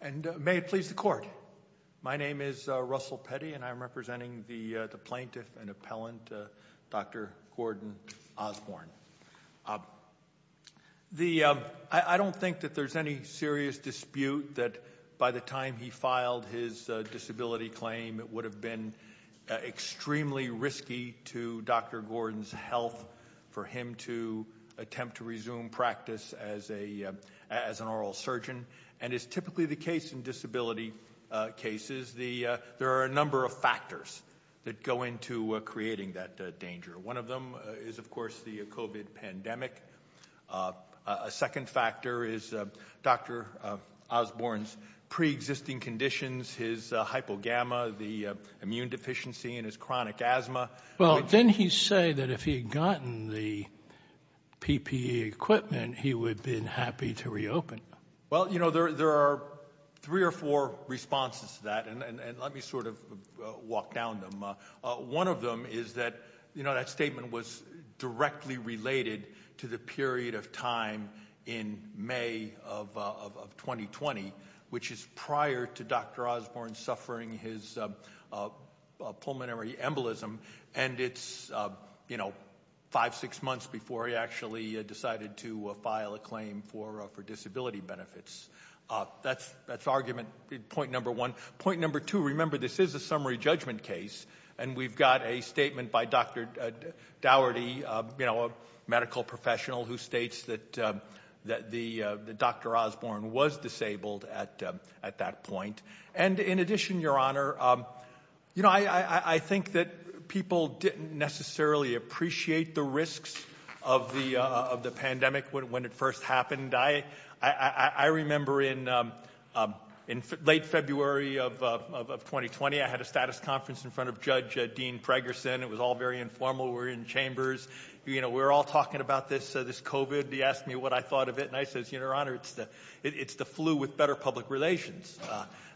and may it please the court my name is Russell Petty and I'm representing the the plaintiff and appellant dr. Gordon Osborn the I don't think that there's any serious dispute that by the time he filed his disability claim it would have been extremely risky to dr. Gordon's health for him to attempt to resume practice as a as an oral surgeon and is typically the case in disability cases the there are a number of factors that go into creating that danger one of them is of course the COVID pandemic a second factor is dr. Osborn's pre-existing conditions his hypogamma the immune deficiency and his chronic asthma well then he say that if he had gotten the PPE equipment he would been happy to reopen well you know there there are three or four responses to that and let me sort of walk down them one of them is that you know that statement was directly related to the period of time in May of 2020 which is prior to dr. and it's you know five six months before he actually decided to file a claim for for disability benefits that's that's argument point number one point number two remember this is a summary judgment case and we've got a statement by dr. Dougherty you know a medical professional who states that that the dr. Osborn was disabled at at that point and in addition your honor you know I think that people didn't necessarily appreciate the risks of the of the pandemic when it first happened I I remember in in late February of 2020 I had a status conference in front of Judge Dean Fragerson it was all very informal we're in chambers you know we're all talking about this so this COVID he asked me what I thought of it and I says your honor it's the it's the flu with better public relations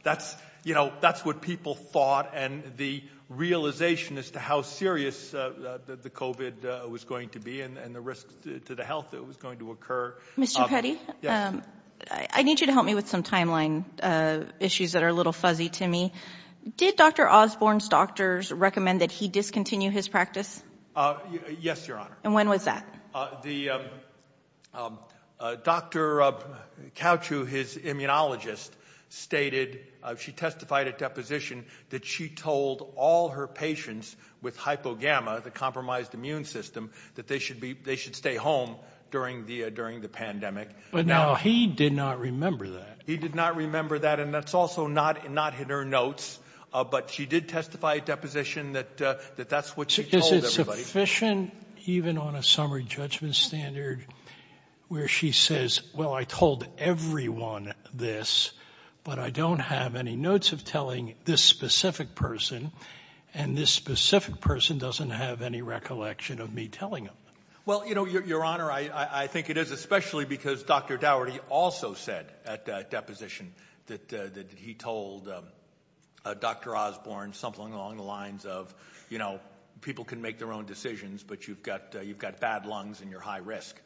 that's you know that's what people thought and the realization as to how serious the COVID was going to be and the risk to the health that was going to occur mr. Petty I need you to help me with some timeline issues that are a little fuzzy to me did dr. Osborne's doctors recommend that he discontinue his practice yes your honor and when was that the dr. couch who his immunologist stated she testified at deposition that she told all her patients with hypogamma the compromised immune system that they should be they should stay home during the during the pandemic but now he did not remember that he did not remember that and that's also not not in her notes but she did testify at deposition that that that's what she says it's efficient even on a summary judgment standard where she says well I person and this specific person doesn't have any recollection of me telling him well you know your honor I I think it is especially because dr. Daugherty also said at deposition that he told dr. Osborne something along the lines of you know people can make their own decisions but you've got you've got bad lungs and you're high risk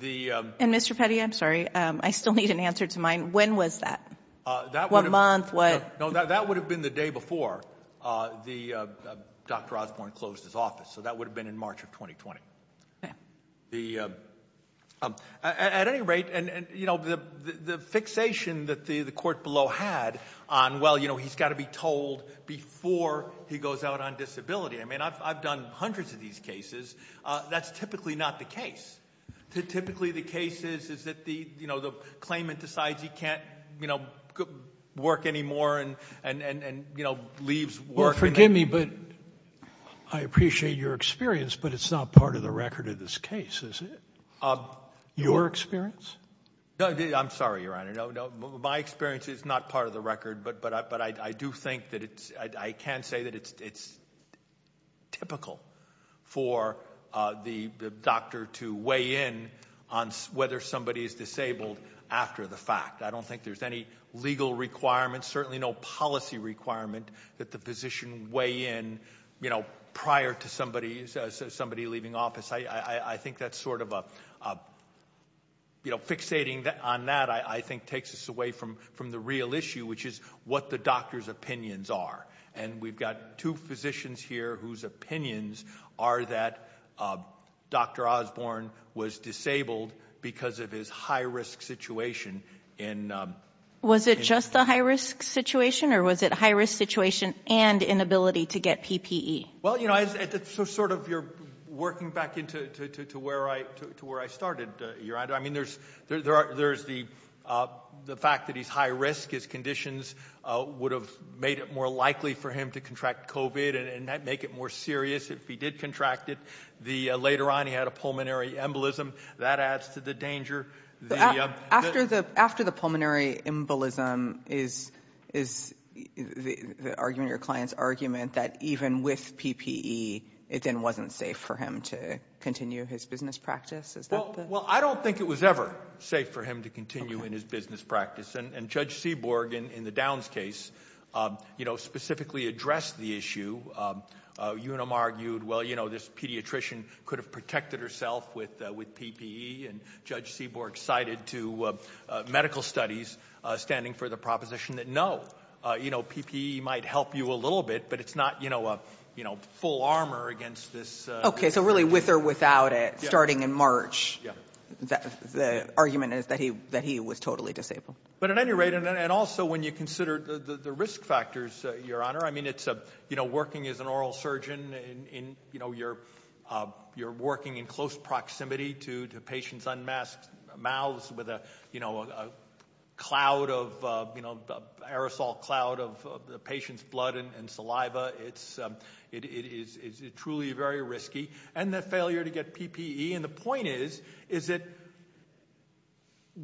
the and mr. Petty I'm sorry I still need an answer to mine when was that what month what no that would have been the day before the dr. Osborne closed his office so that would have been in March of 2020 yeah the at any rate and you know the the fixation that the the court below had on well you know he's got to be told before he goes out on disability I mean I've done hundreds of these cases that's typically not the case typically the case is is that the you know the claimant decides he can't you know work anymore and and and you know leaves work forgive me but I appreciate your experience but it's not part of the record of this case is it your experience no I'm sorry your honor no no my experience is not part of the record but but I but I do think that it's I can't say that it's it's typical for the doctor to weigh in on whether somebody is disabled after the fact I don't think there's any legal requirements certainly no policy requirement that the position weigh in you know prior to somebody's somebody leaving office I I think that's sort of a you know fixating that on that I think takes us away from from the real issue which is what the doctor's opinions are and we've got two physicians here whose opinions are that dr. Osborne was disabled because of his high-risk situation in was it just a high-risk situation or was it high-risk situation and inability to get PPE well you know I sort of you're working back into to where I to where I started your honor I mean there's there are there's the the fact that he's high-risk his conditions would have made it more likely for him to contract Cove it and that make it more serious if he did contract it the later on he had a pulmonary embolism that adds to the danger after the after the pulmonary embolism is is the argument your clients argument that even with PPE it then wasn't safe for him to continue his business practice as well well I don't think it was ever safe for him to continue in his business practice and judge Seaborg in in the Downs case you know specifically addressed the issue you and I'm argued well you know this pediatrician could have protected herself with with PPE and judge Seaborg cited to medical studies standing for the proposition that no you know PPE might help you a little bit but it's not you know a you know full armor against this okay so really with or without it starting in March the argument is that he that he was totally disabled but at any rate and also when you consider the the risk factors your honor I mean it's a you know working as an oral surgeon in you know you're you're working in close proximity to the patient's unmasked mouths with a you know a cloud of you know aerosol cloud of the patient's blood and saliva it's it is it truly very risky and the failure to get PPE and the point is is it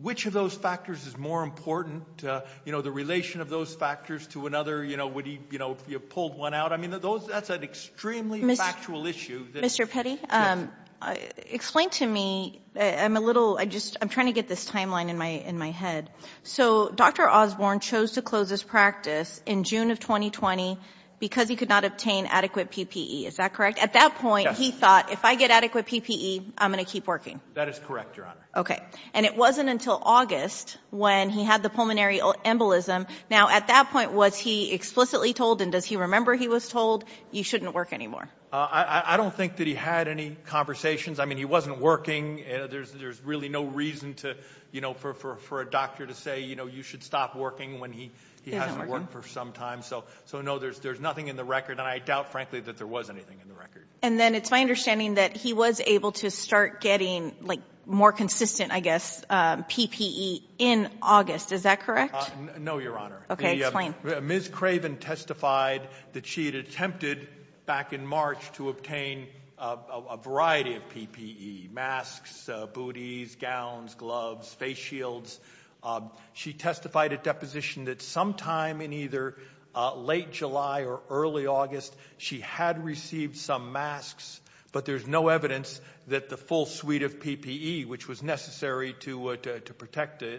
which of those factors is more important you know the relation of those factors to another you know would he you know you pulled one out I mean that those that's an extremely miss actual issue mr. Petty I explained to me I'm a little I just I'm trying to get this timeline in my in my head so dr. Osborne chose to close this practice in June of 2020 because he could not obtain adequate PPE is that correct at that point he thought if I get adequate PPE I'm gonna keep working that is correct your honor okay and it wasn't until August when he had the pulmonary embolism now at that point was he explicitly told and does he remember he was told you shouldn't work anymore I I don't think that he had any conversations I mean he wasn't working there's there's really no reason to you know for a doctor to say you know you should stop working when he he hasn't worked for some time so so no there's there's nothing in the record and I frankly that there was anything in the record and then it's my understanding that he was able to start getting like more consistent I guess PPE in August is that correct no your honor okay explain miss Craven testified that she had attempted back in March to obtain a variety of PPE masks booties gowns gloves face shields she testified at deposition that sometime in either late July or early August she had received some masks but there's no evidence that the full suite of PPE which was necessary to to protect a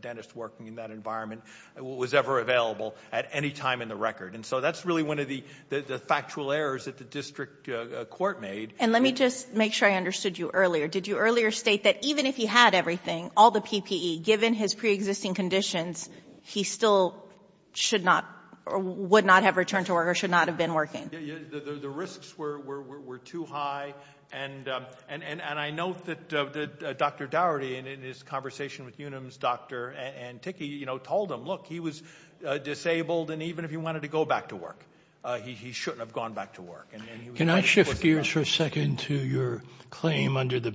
dentist working in that environment was ever available at any time in the record and so that's really one of the the factual errors that the district court made and let me just make sure I understood you earlier did you earlier state that even if he had everything all the PPE given his pre-existing conditions he still should or would not have returned to work or should not have been working the risks were too high and and and I know that Dr. Dougherty and in his conversation with Unum's doctor and Tiki you know told him look he was disabled and even if he wanted to go back to work he shouldn't have gone back to work and then you cannot shift gears for a second to your claim under the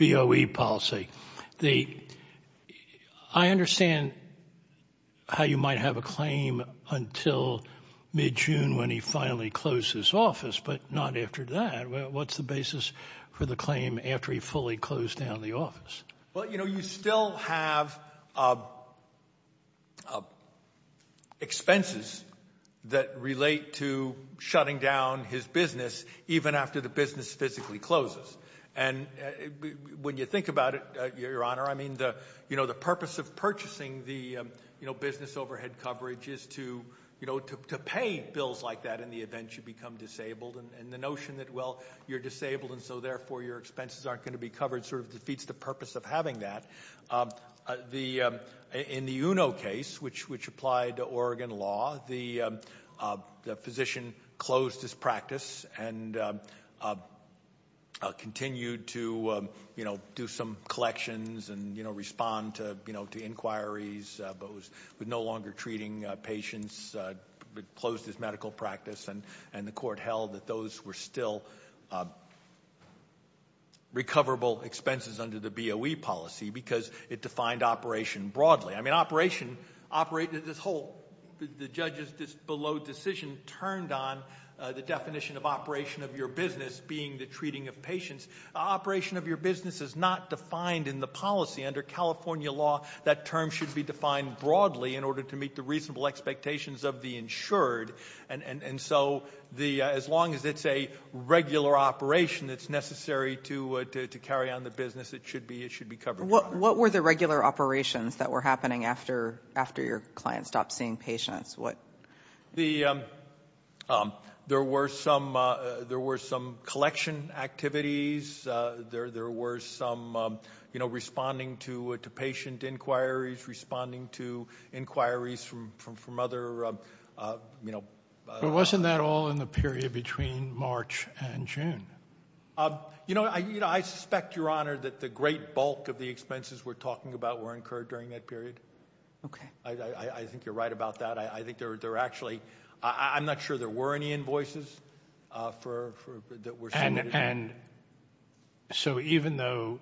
BOE policy the I understand how you might have a claim until mid-june when he finally closed his office but not after that what's the basis for the claim after he fully closed down the office well you know you still have expenses that relate to shutting down his business even after the business physically closes and when you think about it your honor I mean the you know the purpose of purchasing the you know business overhead coverage is to you know to pay bills like that in the event you become disabled and the notion that well you're disabled and so therefore your expenses aren't going to be covered sort of defeats the purpose of having that the in the uno case which which applied to Oregon law the the position closed his practice and continued to you know do some collections and you know respond to you know to inquiries but was with no longer treating patients closed his medical practice and and the court held that those were still recoverable expenses under the BOE policy because it defined operation broadly I mean operation operated this whole the judges just low decision turned on the definition of operation of your business being the treating of patients operation of your business is not defined in the policy under California law that term should be defined broadly in order to meet the reasonable expectations of the insured and and and so the as long as it's a regular operation that's necessary to to carry on the business it should be it should be covered what what were the regular operations that were happening after after your client stopped seeing patients what the there were some there were some collection activities there there were some you know responding to to patient inquiries responding to inquiries from from from other you know but wasn't that all in the period between March and June you know I you know I suspect your honor that the great bulk of the expenses we're talking about were incurred during that period okay I think you're right about that I think they're they're actually I'm not sure there were any invoices for that we're and and so even though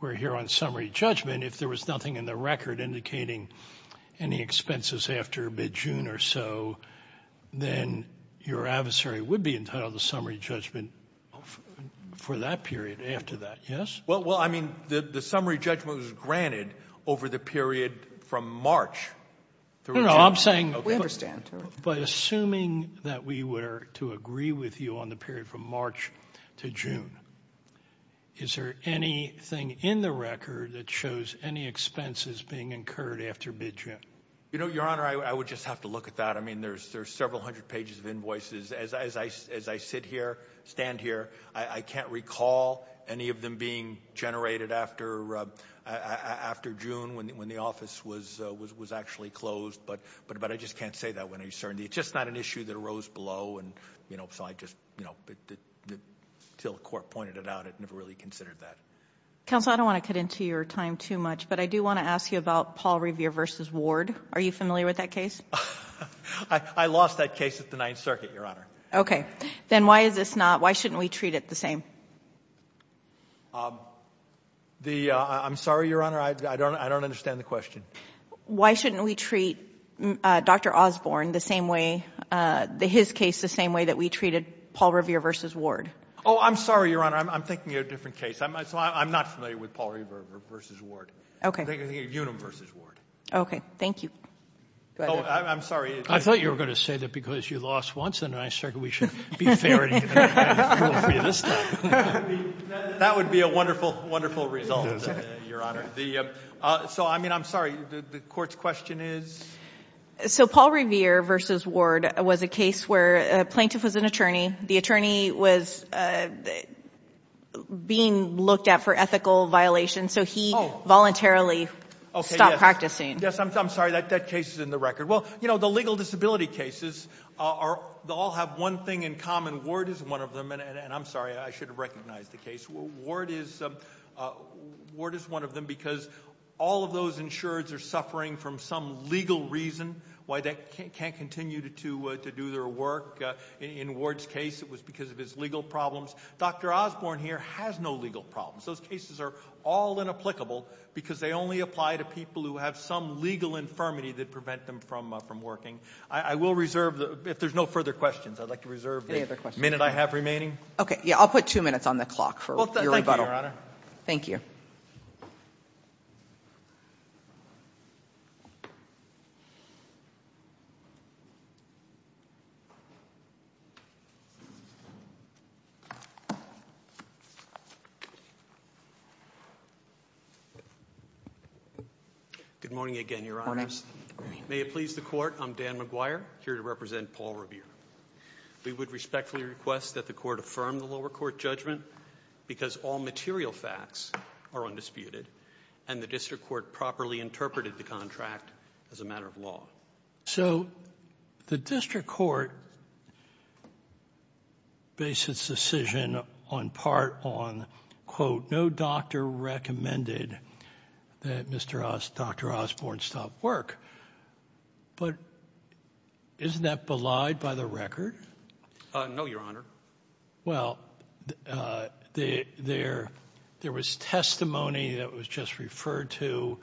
we're here on summary judgment if there was nothing in the record indicating any expenses after mid-june or so then your adversary would be entitled to summary judgment for that period after that yes well well I mean the summary judgment was granted over the period from March I'm saying we understand but assuming that we were to agree with you on the period from March to June is there anything in the record that shows any expenses being incurred after mid-june you know your honor I would just have to look at that I mean there's there's several hundred pages of invoices as I as I sit here stand here I can't recall any of them being generated after after June when the office was was was actually closed but but but I just can't say that when I certainly it's just not an issue that arose below and you know so I just you know the till the court pointed it out it never really considered that council I don't want to cut into your time too much but I do want to ask you about Paul Revere versus Ward are you familiar with that case I lost that case at the Ninth Circuit your okay then why is this not why shouldn't we treat it the same the I'm sorry your honor I don't I don't understand the question why shouldn't we treat dr. Osborne the same way the his case the same way that we treated Paul Revere versus Ward oh I'm sorry your honor I'm thinking a different case I'm not familiar with Paul Revere versus Ward okay the universe is ward okay thank you I'm sorry I thought you were gonna say that because you lost once and I started we should be fair that would be a wonderful wonderful result your honor the so I mean I'm sorry the court's question is so Paul Revere versus Ward was a case where a plaintiff was an attorney the attorney was being looked at for ethical violations so he voluntarily okay not practicing yes I'm sorry that that case is in the record well you know the legal disability cases are they all have one thing in common Ward is one of them and and I'm sorry I should have recognized the case Ward is Ward is one of them because all of those insureds are suffering from some legal reason why they can't continue to to do their work in Ward's case it was because of his legal problems dr. Osborne here has no legal problems those cases are all inapplicable because they only apply to people who have some legal infirmity that prevent them from from working I will reserve the if there's no further questions I'd like to reserve any other minute I have remaining okay yeah I'll put two minutes on the clock for your rebuttal thank you good morning again your eyes may it please the court I'm Dan McGuire here to represent Paul Revere we would respectfully request that the court affirm the lower court judgment because all material facts are undisputed and the district court properly interpreted the contract as a matter of law so the district court basis decision on part on quote no doctor recommended that mr. dr. Osborne stop work but isn't that belied by the record no your honor well there there was testimony that was just referred to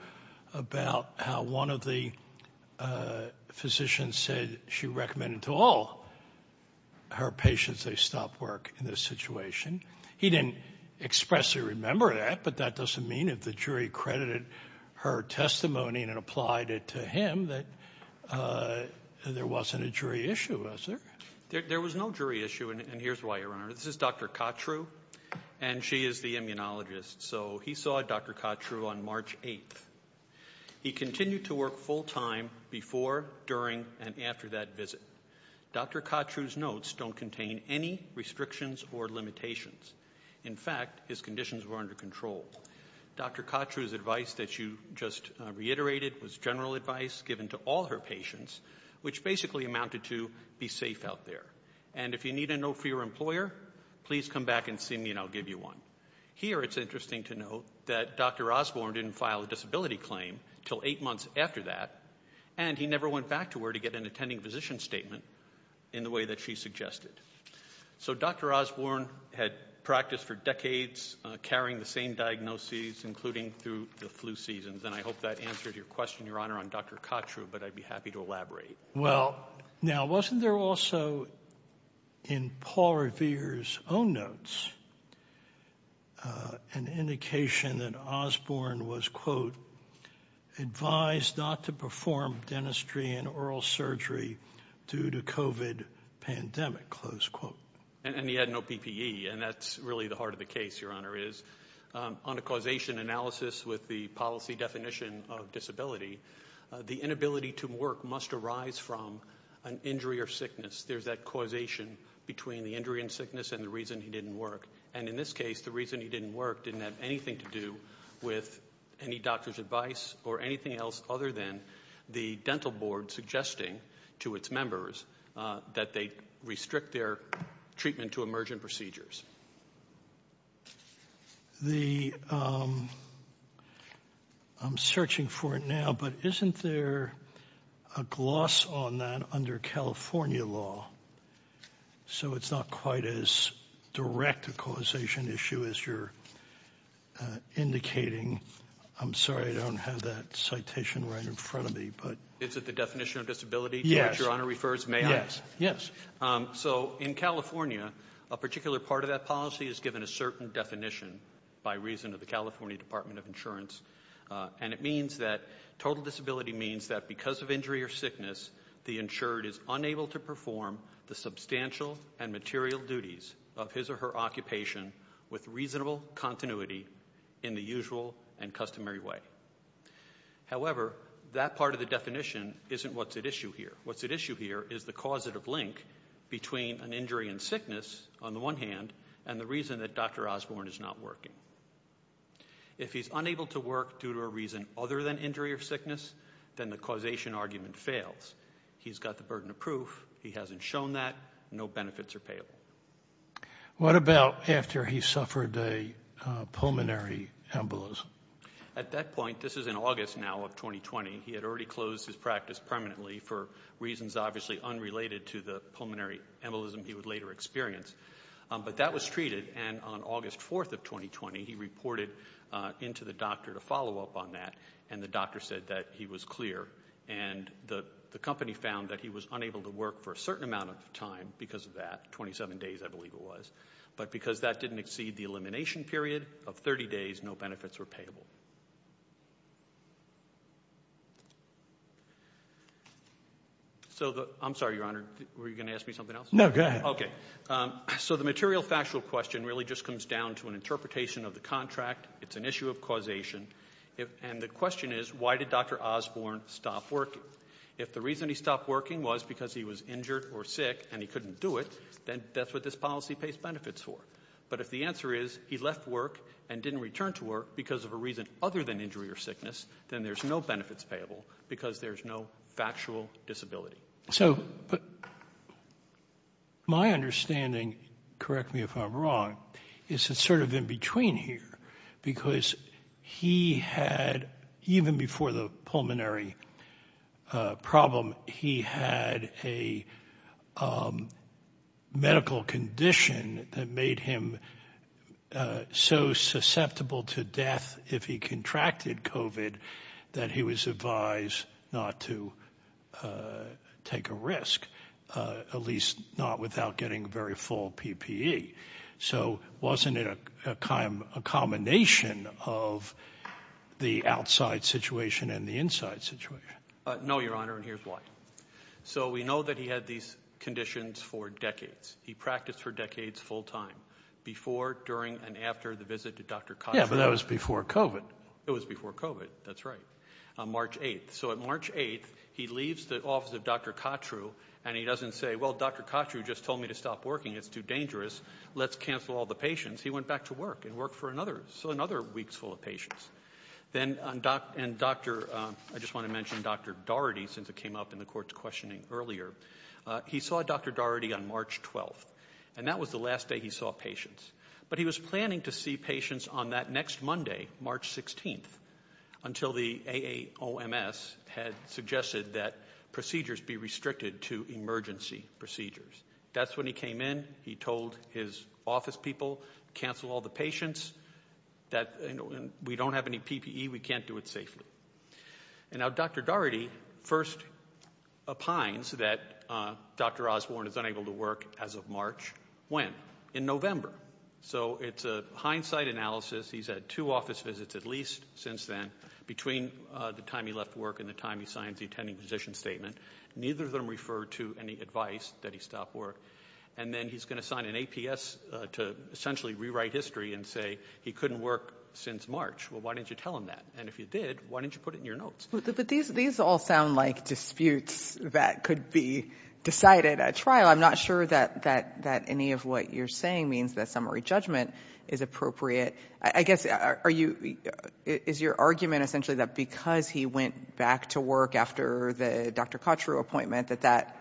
about how one of the physicians said she recommended to all her patients they stopped work in this situation he didn't expressly remember that but that doesn't mean if the jury credited her testimony and applied it to him that there wasn't a jury issue was there there was no jury issue and here's why your honor this is dr. Kottrue and she is the immunologist so he saw dr. Kottrue on March 8th he continued to work full-time before during and after that visit dr. Kottrue notes don't contain any restrictions or limitations in fact his conditions were to control dr. Kottrue's advice that you just reiterated was general advice given to all her patients which basically amounted to be safe out there and if you need a note for your employer please come back and see me and I'll give you one here it's interesting to note that dr. Osborne didn't file a disability claim till eight months after that and he never went back to her to get an attending physician statement in the way that she suggested so dr. Osborne had practiced for decades carrying the same diagnoses including through the flu seasons and I hope that answers your question your honor on dr. Kottrue but I'd be happy to elaborate well now wasn't there also in Paul Revere's own notes an indication that Osborne was quote advised not to perform dentistry and oral surgery due to COVID pandemic close quote and he had no PPE and that's really the heart of the case your honor is on a causation analysis with the policy definition of disability the inability to work must arise from an injury or sickness there's that causation between the injury and sickness and the reason he didn't work and in this case the reason he didn't work didn't have anything to do with any doctor's advice or anything else other than the dental board suggesting to its members that they restrict their treatment to emergent procedures the I'm searching for it now but isn't there a gloss on that under California law so it's not quite as direct a causation issue as you're indicating I'm sorry I don't have that citation right in front of me but it's at the definition of disability yes your honor refers may yes yes so in California a particular part of that policy is given a certain definition by reason of the California Department of Insurance and it means that total disability means that because of injury or sickness the insured is unable to perform the substantial and material duties of his or her occupation with reasonable continuity in the usual and customary way however that part of the definition isn't what's at issue here what's at issue here is the causative link between an injury and sickness on the one hand and the reason that dr. Osborne is not working if he's unable to work due to a reason other than injury or sickness then the causation argument fails he's got the burden of proof he hasn't shown that no benefits are payable what about after he suffered a pulmonary embolism at that point this is in August now of 2020 he had already closed his practice permanently for reasons obviously unrelated to the pulmonary embolism he would later experience but that was treated and on August 4th of 2020 he reported into the doctor to follow up on that and the doctor said that he was clear and the the company found that he was unable to work for a certain amount of time because of that 27 days I was but because that didn't exceed the elimination period of 30 days no benefits were payable so the I'm sorry your honor were you gonna ask me something else no good okay so the material factual question really just comes down to an interpretation of the contract it's an issue of causation if and the question is why did dr. Osborne stop working if the reason he stopped working was because he was injured or sick and he couldn't do it then that's what this policy pays benefits for but if the answer is he left work and didn't return to work because of a reason other than injury or sickness then there's no benefits payable because there's no factual disability so but my understanding correct me if I'm wrong is it sort of in between here because he had even before the pulmonary problem he had a medical condition that made him so susceptible to death if he contracted kovat that he was advised not to take a risk at least not without getting very full PPE so wasn't it a combination of the outside situation and the inside situation no your honor and here's why so we know that he had these conditions for decades he practiced for decades full-time before during and after the visit to dr. conference before kovat it was before kovat that's right on March 8th so at March 8th he leaves the office of dr. Kott true and he doesn't say well dr. Kott you just told me to stop working it's too dangerous let's cancel all the patients he went back to work and work for another so another weeks full of patients then on doc and dr. I just want to mention dr. Daugherty since it came up in the courts questioning earlier he saw dr. Daugherty on March 12th and that was the last day he saw patients but he was planning to see patients on that next Monday March 16th until the AOMS had suggested that procedures be restricted to emergency procedures that's when he came in he told his office people cancel all the patients that we don't have any PPE we can't do it safely and now dr. Daugherty first opines that dr. Osborne is unable to work as of March when in November so it's a hindsight analysis he's had two office visits at least since then between the time he left work and the time he signs the attending physician statement neither of them refer to any and then he's going to sign an APS to essentially rewrite history and say he couldn't work since March well why don't you tell him that and if you did why don't you put it in your notes but these these all sound like disputes that could be decided at trial I'm not sure that that that any of what you're saying means that summary judgment is appropriate I guess are you is your argument essentially that because he went back to work after the dr. Kott true appointment that that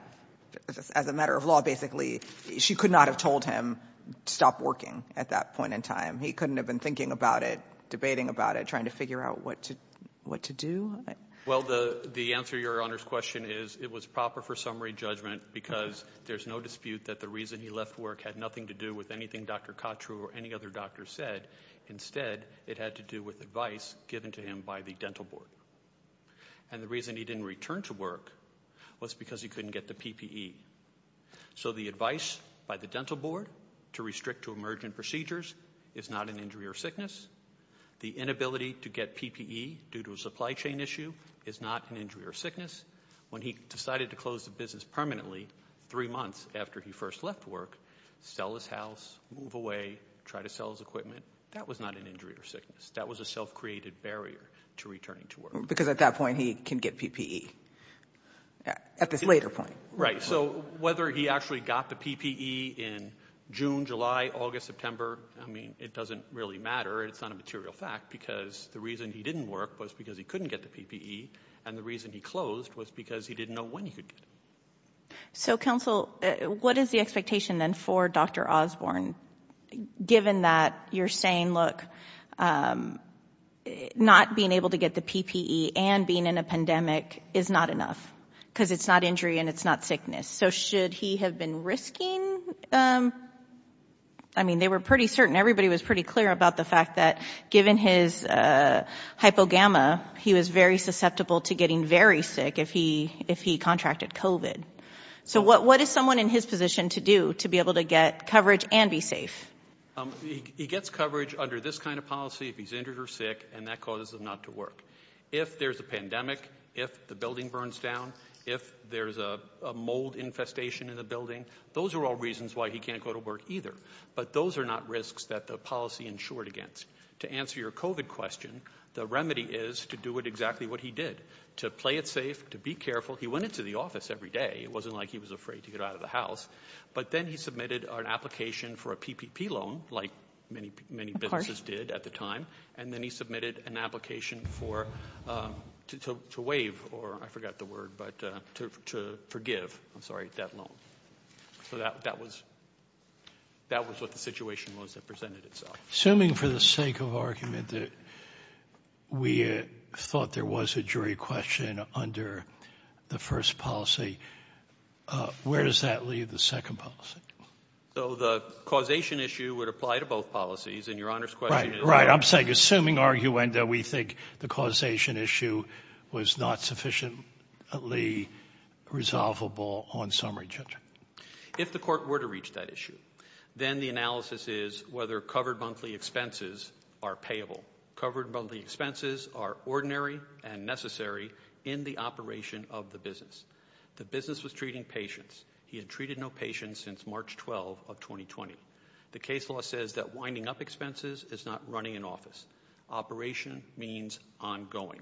as a matter of law basically she could not have told him stop working at that point in time he couldn't have been thinking about it debating about it trying to figure out what to what to do well the the answer your honors question is it was proper for summary judgment because there's no dispute that the reason he left work had nothing to do with anything dr. Kott true or any other doctor said instead it had to do with advice given to him by the board and the reason he didn't return to work was because he couldn't get the PPE so the advice by the dental board to restrict to emergent procedures is not an injury or sickness the inability to get PPE due to a supply chain issue is not an injury or sickness when he decided to close the business permanently three months after he first left work sell his house move away try to sell his equipment that was not an injury or sickness that was a self-created barrier to returning to work because at that point he can get PPE at this later point right so whether he actually got the PPE in June July August September I mean it doesn't really matter it's not a material fact because the reason he didn't work was because he couldn't get the PPE and the reason he closed was because he didn't know when he could so counsel what is the expectation then for dr. Osborne given that you're saying look not being able to get the PPE and being in a pandemic is not enough because it's not injury and it's not sickness so should he have been risking I mean they were pretty certain everybody was pretty clear about the fact that given his hypogamma he was very susceptible to getting very sick if he if he contracted kovat so what what is someone in his position to do to be able to get coverage and be safe he gets coverage under this kind of policy if he's injured or sick and that causes them not to work if there's a pandemic if the building burns down if there's a mold infestation in the building those are all reasons why he can't go to work either but those are not risks that the policy insured against to answer your kovat question the remedy is to do it what he did to play it safe to be careful he went into the office every day it wasn't like he was afraid to get out of the house but then he submitted an application for a PPP loan like many many parties did at the time and then he submitted an application for to wave or I forgot the word but to forgive I'm sorry that loan so that that was that was what the situation was that presented so assuming for the sake of argument that we thought there was a jury question under the first policy where does that leave the second policy so the causation issue would apply to both policies and your honor's question right I'm saying assuming arguenda we think the causation issue was not sufficiently resolvable on summary judgment if the court were to reach that issue then the is whether covered monthly expenses are payable covered by the expenses are ordinary and necessary in the operation of the business the business was treating patients he had treated no patients since March 12 of 2020 the case law says that winding up expenses is not running an office operation means ongoing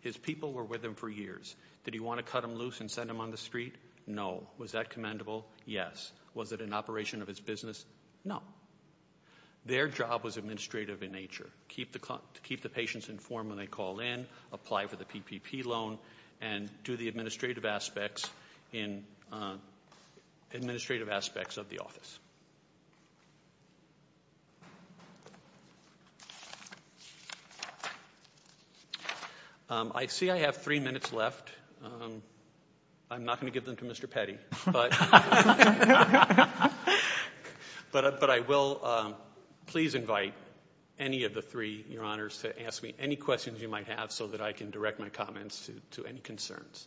his people were with him for years did he want to cut him loose and send him on the street no was that commendable yes was it an operation of business no their job was administrative in nature keep the clock to keep the patients informed when they call in apply for the PPP loan and do the administrative aspects in administrative aspects of the office I see I have three minutes left I'm not going to give them to mr. Petty but but I will please invite any of the three your honors to ask me any questions you might have so that I can direct my comments to any concerns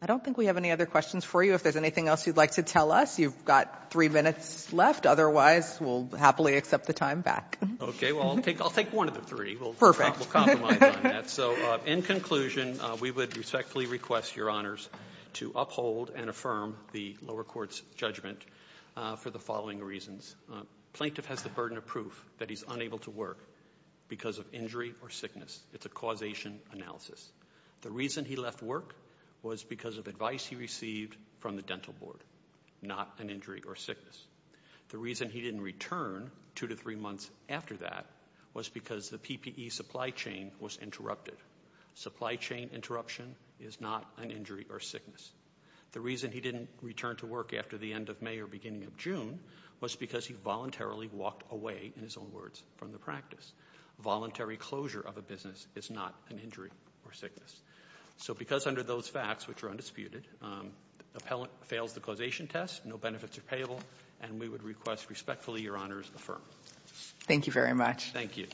I don't think we have any other questions for you if there's anything else you'd like to tell us you've got three minutes left otherwise we'll happily accept the back okay well I'll take I'll take one of the three perfect so in conclusion we would respectfully request your honors to uphold and affirm the lower courts judgment for the following reasons plaintiff has the burden of proof that he's unable to work because of injury or sickness it's a causation analysis the reason he left work was because of advice he received from the dental board not an injury or sickness the reason he didn't return two to three months after that was because the PPE supply chain was interrupted supply chain interruption is not an injury or sickness the reason he didn't return to work after the end of May or beginning of June was because he voluntarily walked away in his own words from the practice voluntary closure of a business is not an injury or sickness so because under those facts which are no benefits are payable and we would request respectfully your honors the firm thank you very much thank you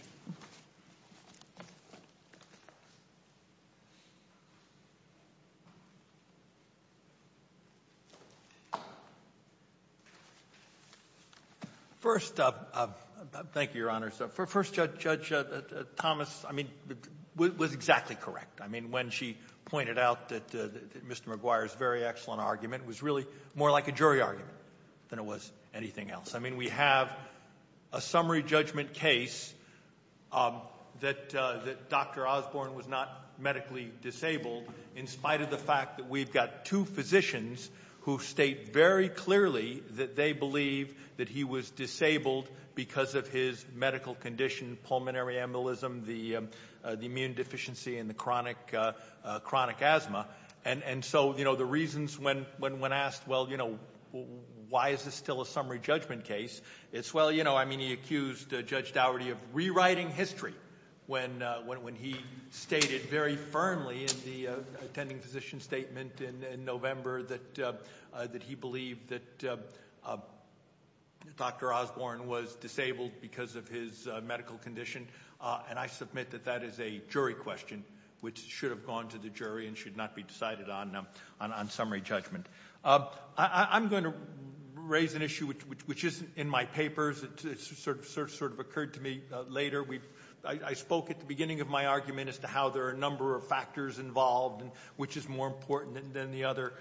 first up thank you your honor so for first judge Thomas I mean what was exactly correct I mean when she pointed out that mr. McGuire's very excellent argument was really more like a jury argument than it was anything else I mean we have a summary judgment case that that dr. Osborne was not medically disabled in spite of the fact that we've got two physicians who state very clearly that they believe that he was disabled because of his medical condition pulmonary embolism the the immune deficiency and the chronic chronic asthma and and so you know the reasons when when when asked well you know why is this still a summary judgment case it's well you know I mean he accused Judge Dougherty of rewriting history when when he stated very firmly in the attending physician statement in November that that he believed that dr. Osborne was disabled because of his medical condition and I submit that that is a jury question which should have gone to the jury and should not be decided on them on summary judgment I'm going to raise an issue which which is in my papers it's sort of search sort of occurred to me later we I spoke at the beginning of my argument as to how there are a number of factors involved and which is more important than the other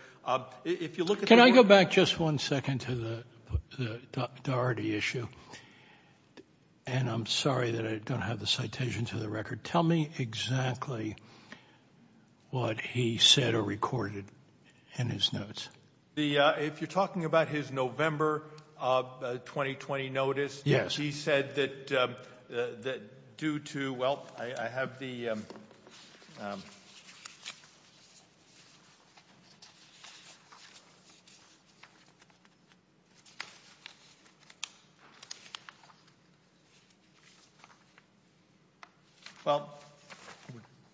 if you look can I go back just one second to the Dougherty issue and I'm sorry that I don't have the citation to the record tell me exactly what he said or recorded in his notes the if you're talking about his November of 2020 notice yes he said that that due to well I have the well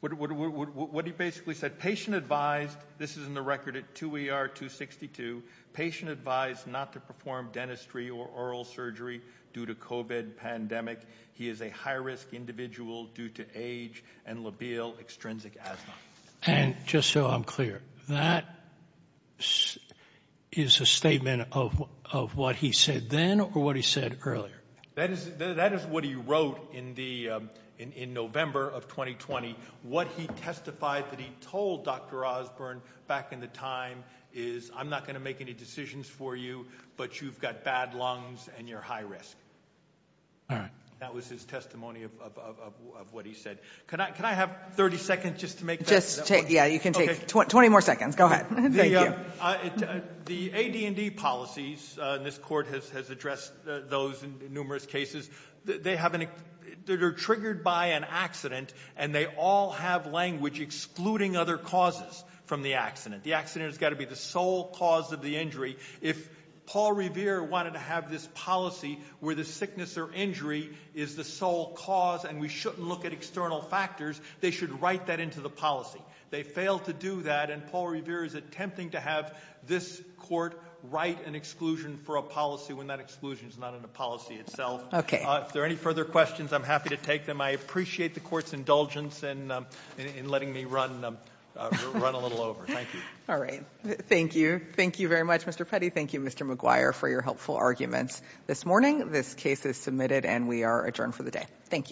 what he basically said patient advised this is in the record it to we are 262 patient advised not to perform dentistry or oral surgery due to COVID pandemic he is a high-risk individual due to age and labile extrinsic asthma and just so I'm clear that is a statement of what he said then or what earlier that is that is what he wrote in the in November of 2020 what he testified that he told dr. Osborne back in the time is I'm not going to make any decisions for you but you've got bad lungs and you're high-risk all right that was his testimony of what he said can I can I have 30 seconds just to make just take yeah you can take 20 more seconds go ahead the AD&D policies this has addressed those in numerous cases they haven't triggered by an accident and they all have language excluding other causes from the accident the accident has got to be the sole cause of the injury if Paul Revere wanted to have this policy where the sickness or injury is the sole cause and we shouldn't look at external factors they should write that into the policy they failed to do that and Paul Revere is attempting to have this court write an exclusion for a policy when that exclusion is not in the policy itself okay if there are any further questions I'm happy to take them I appreciate the court's indulgence and in letting me run run a little over thank you all right thank you thank you very much mr. Petty thank you mr. McGuire for your helpful arguments this morning this case is submitted and we are adjourned for the day thank you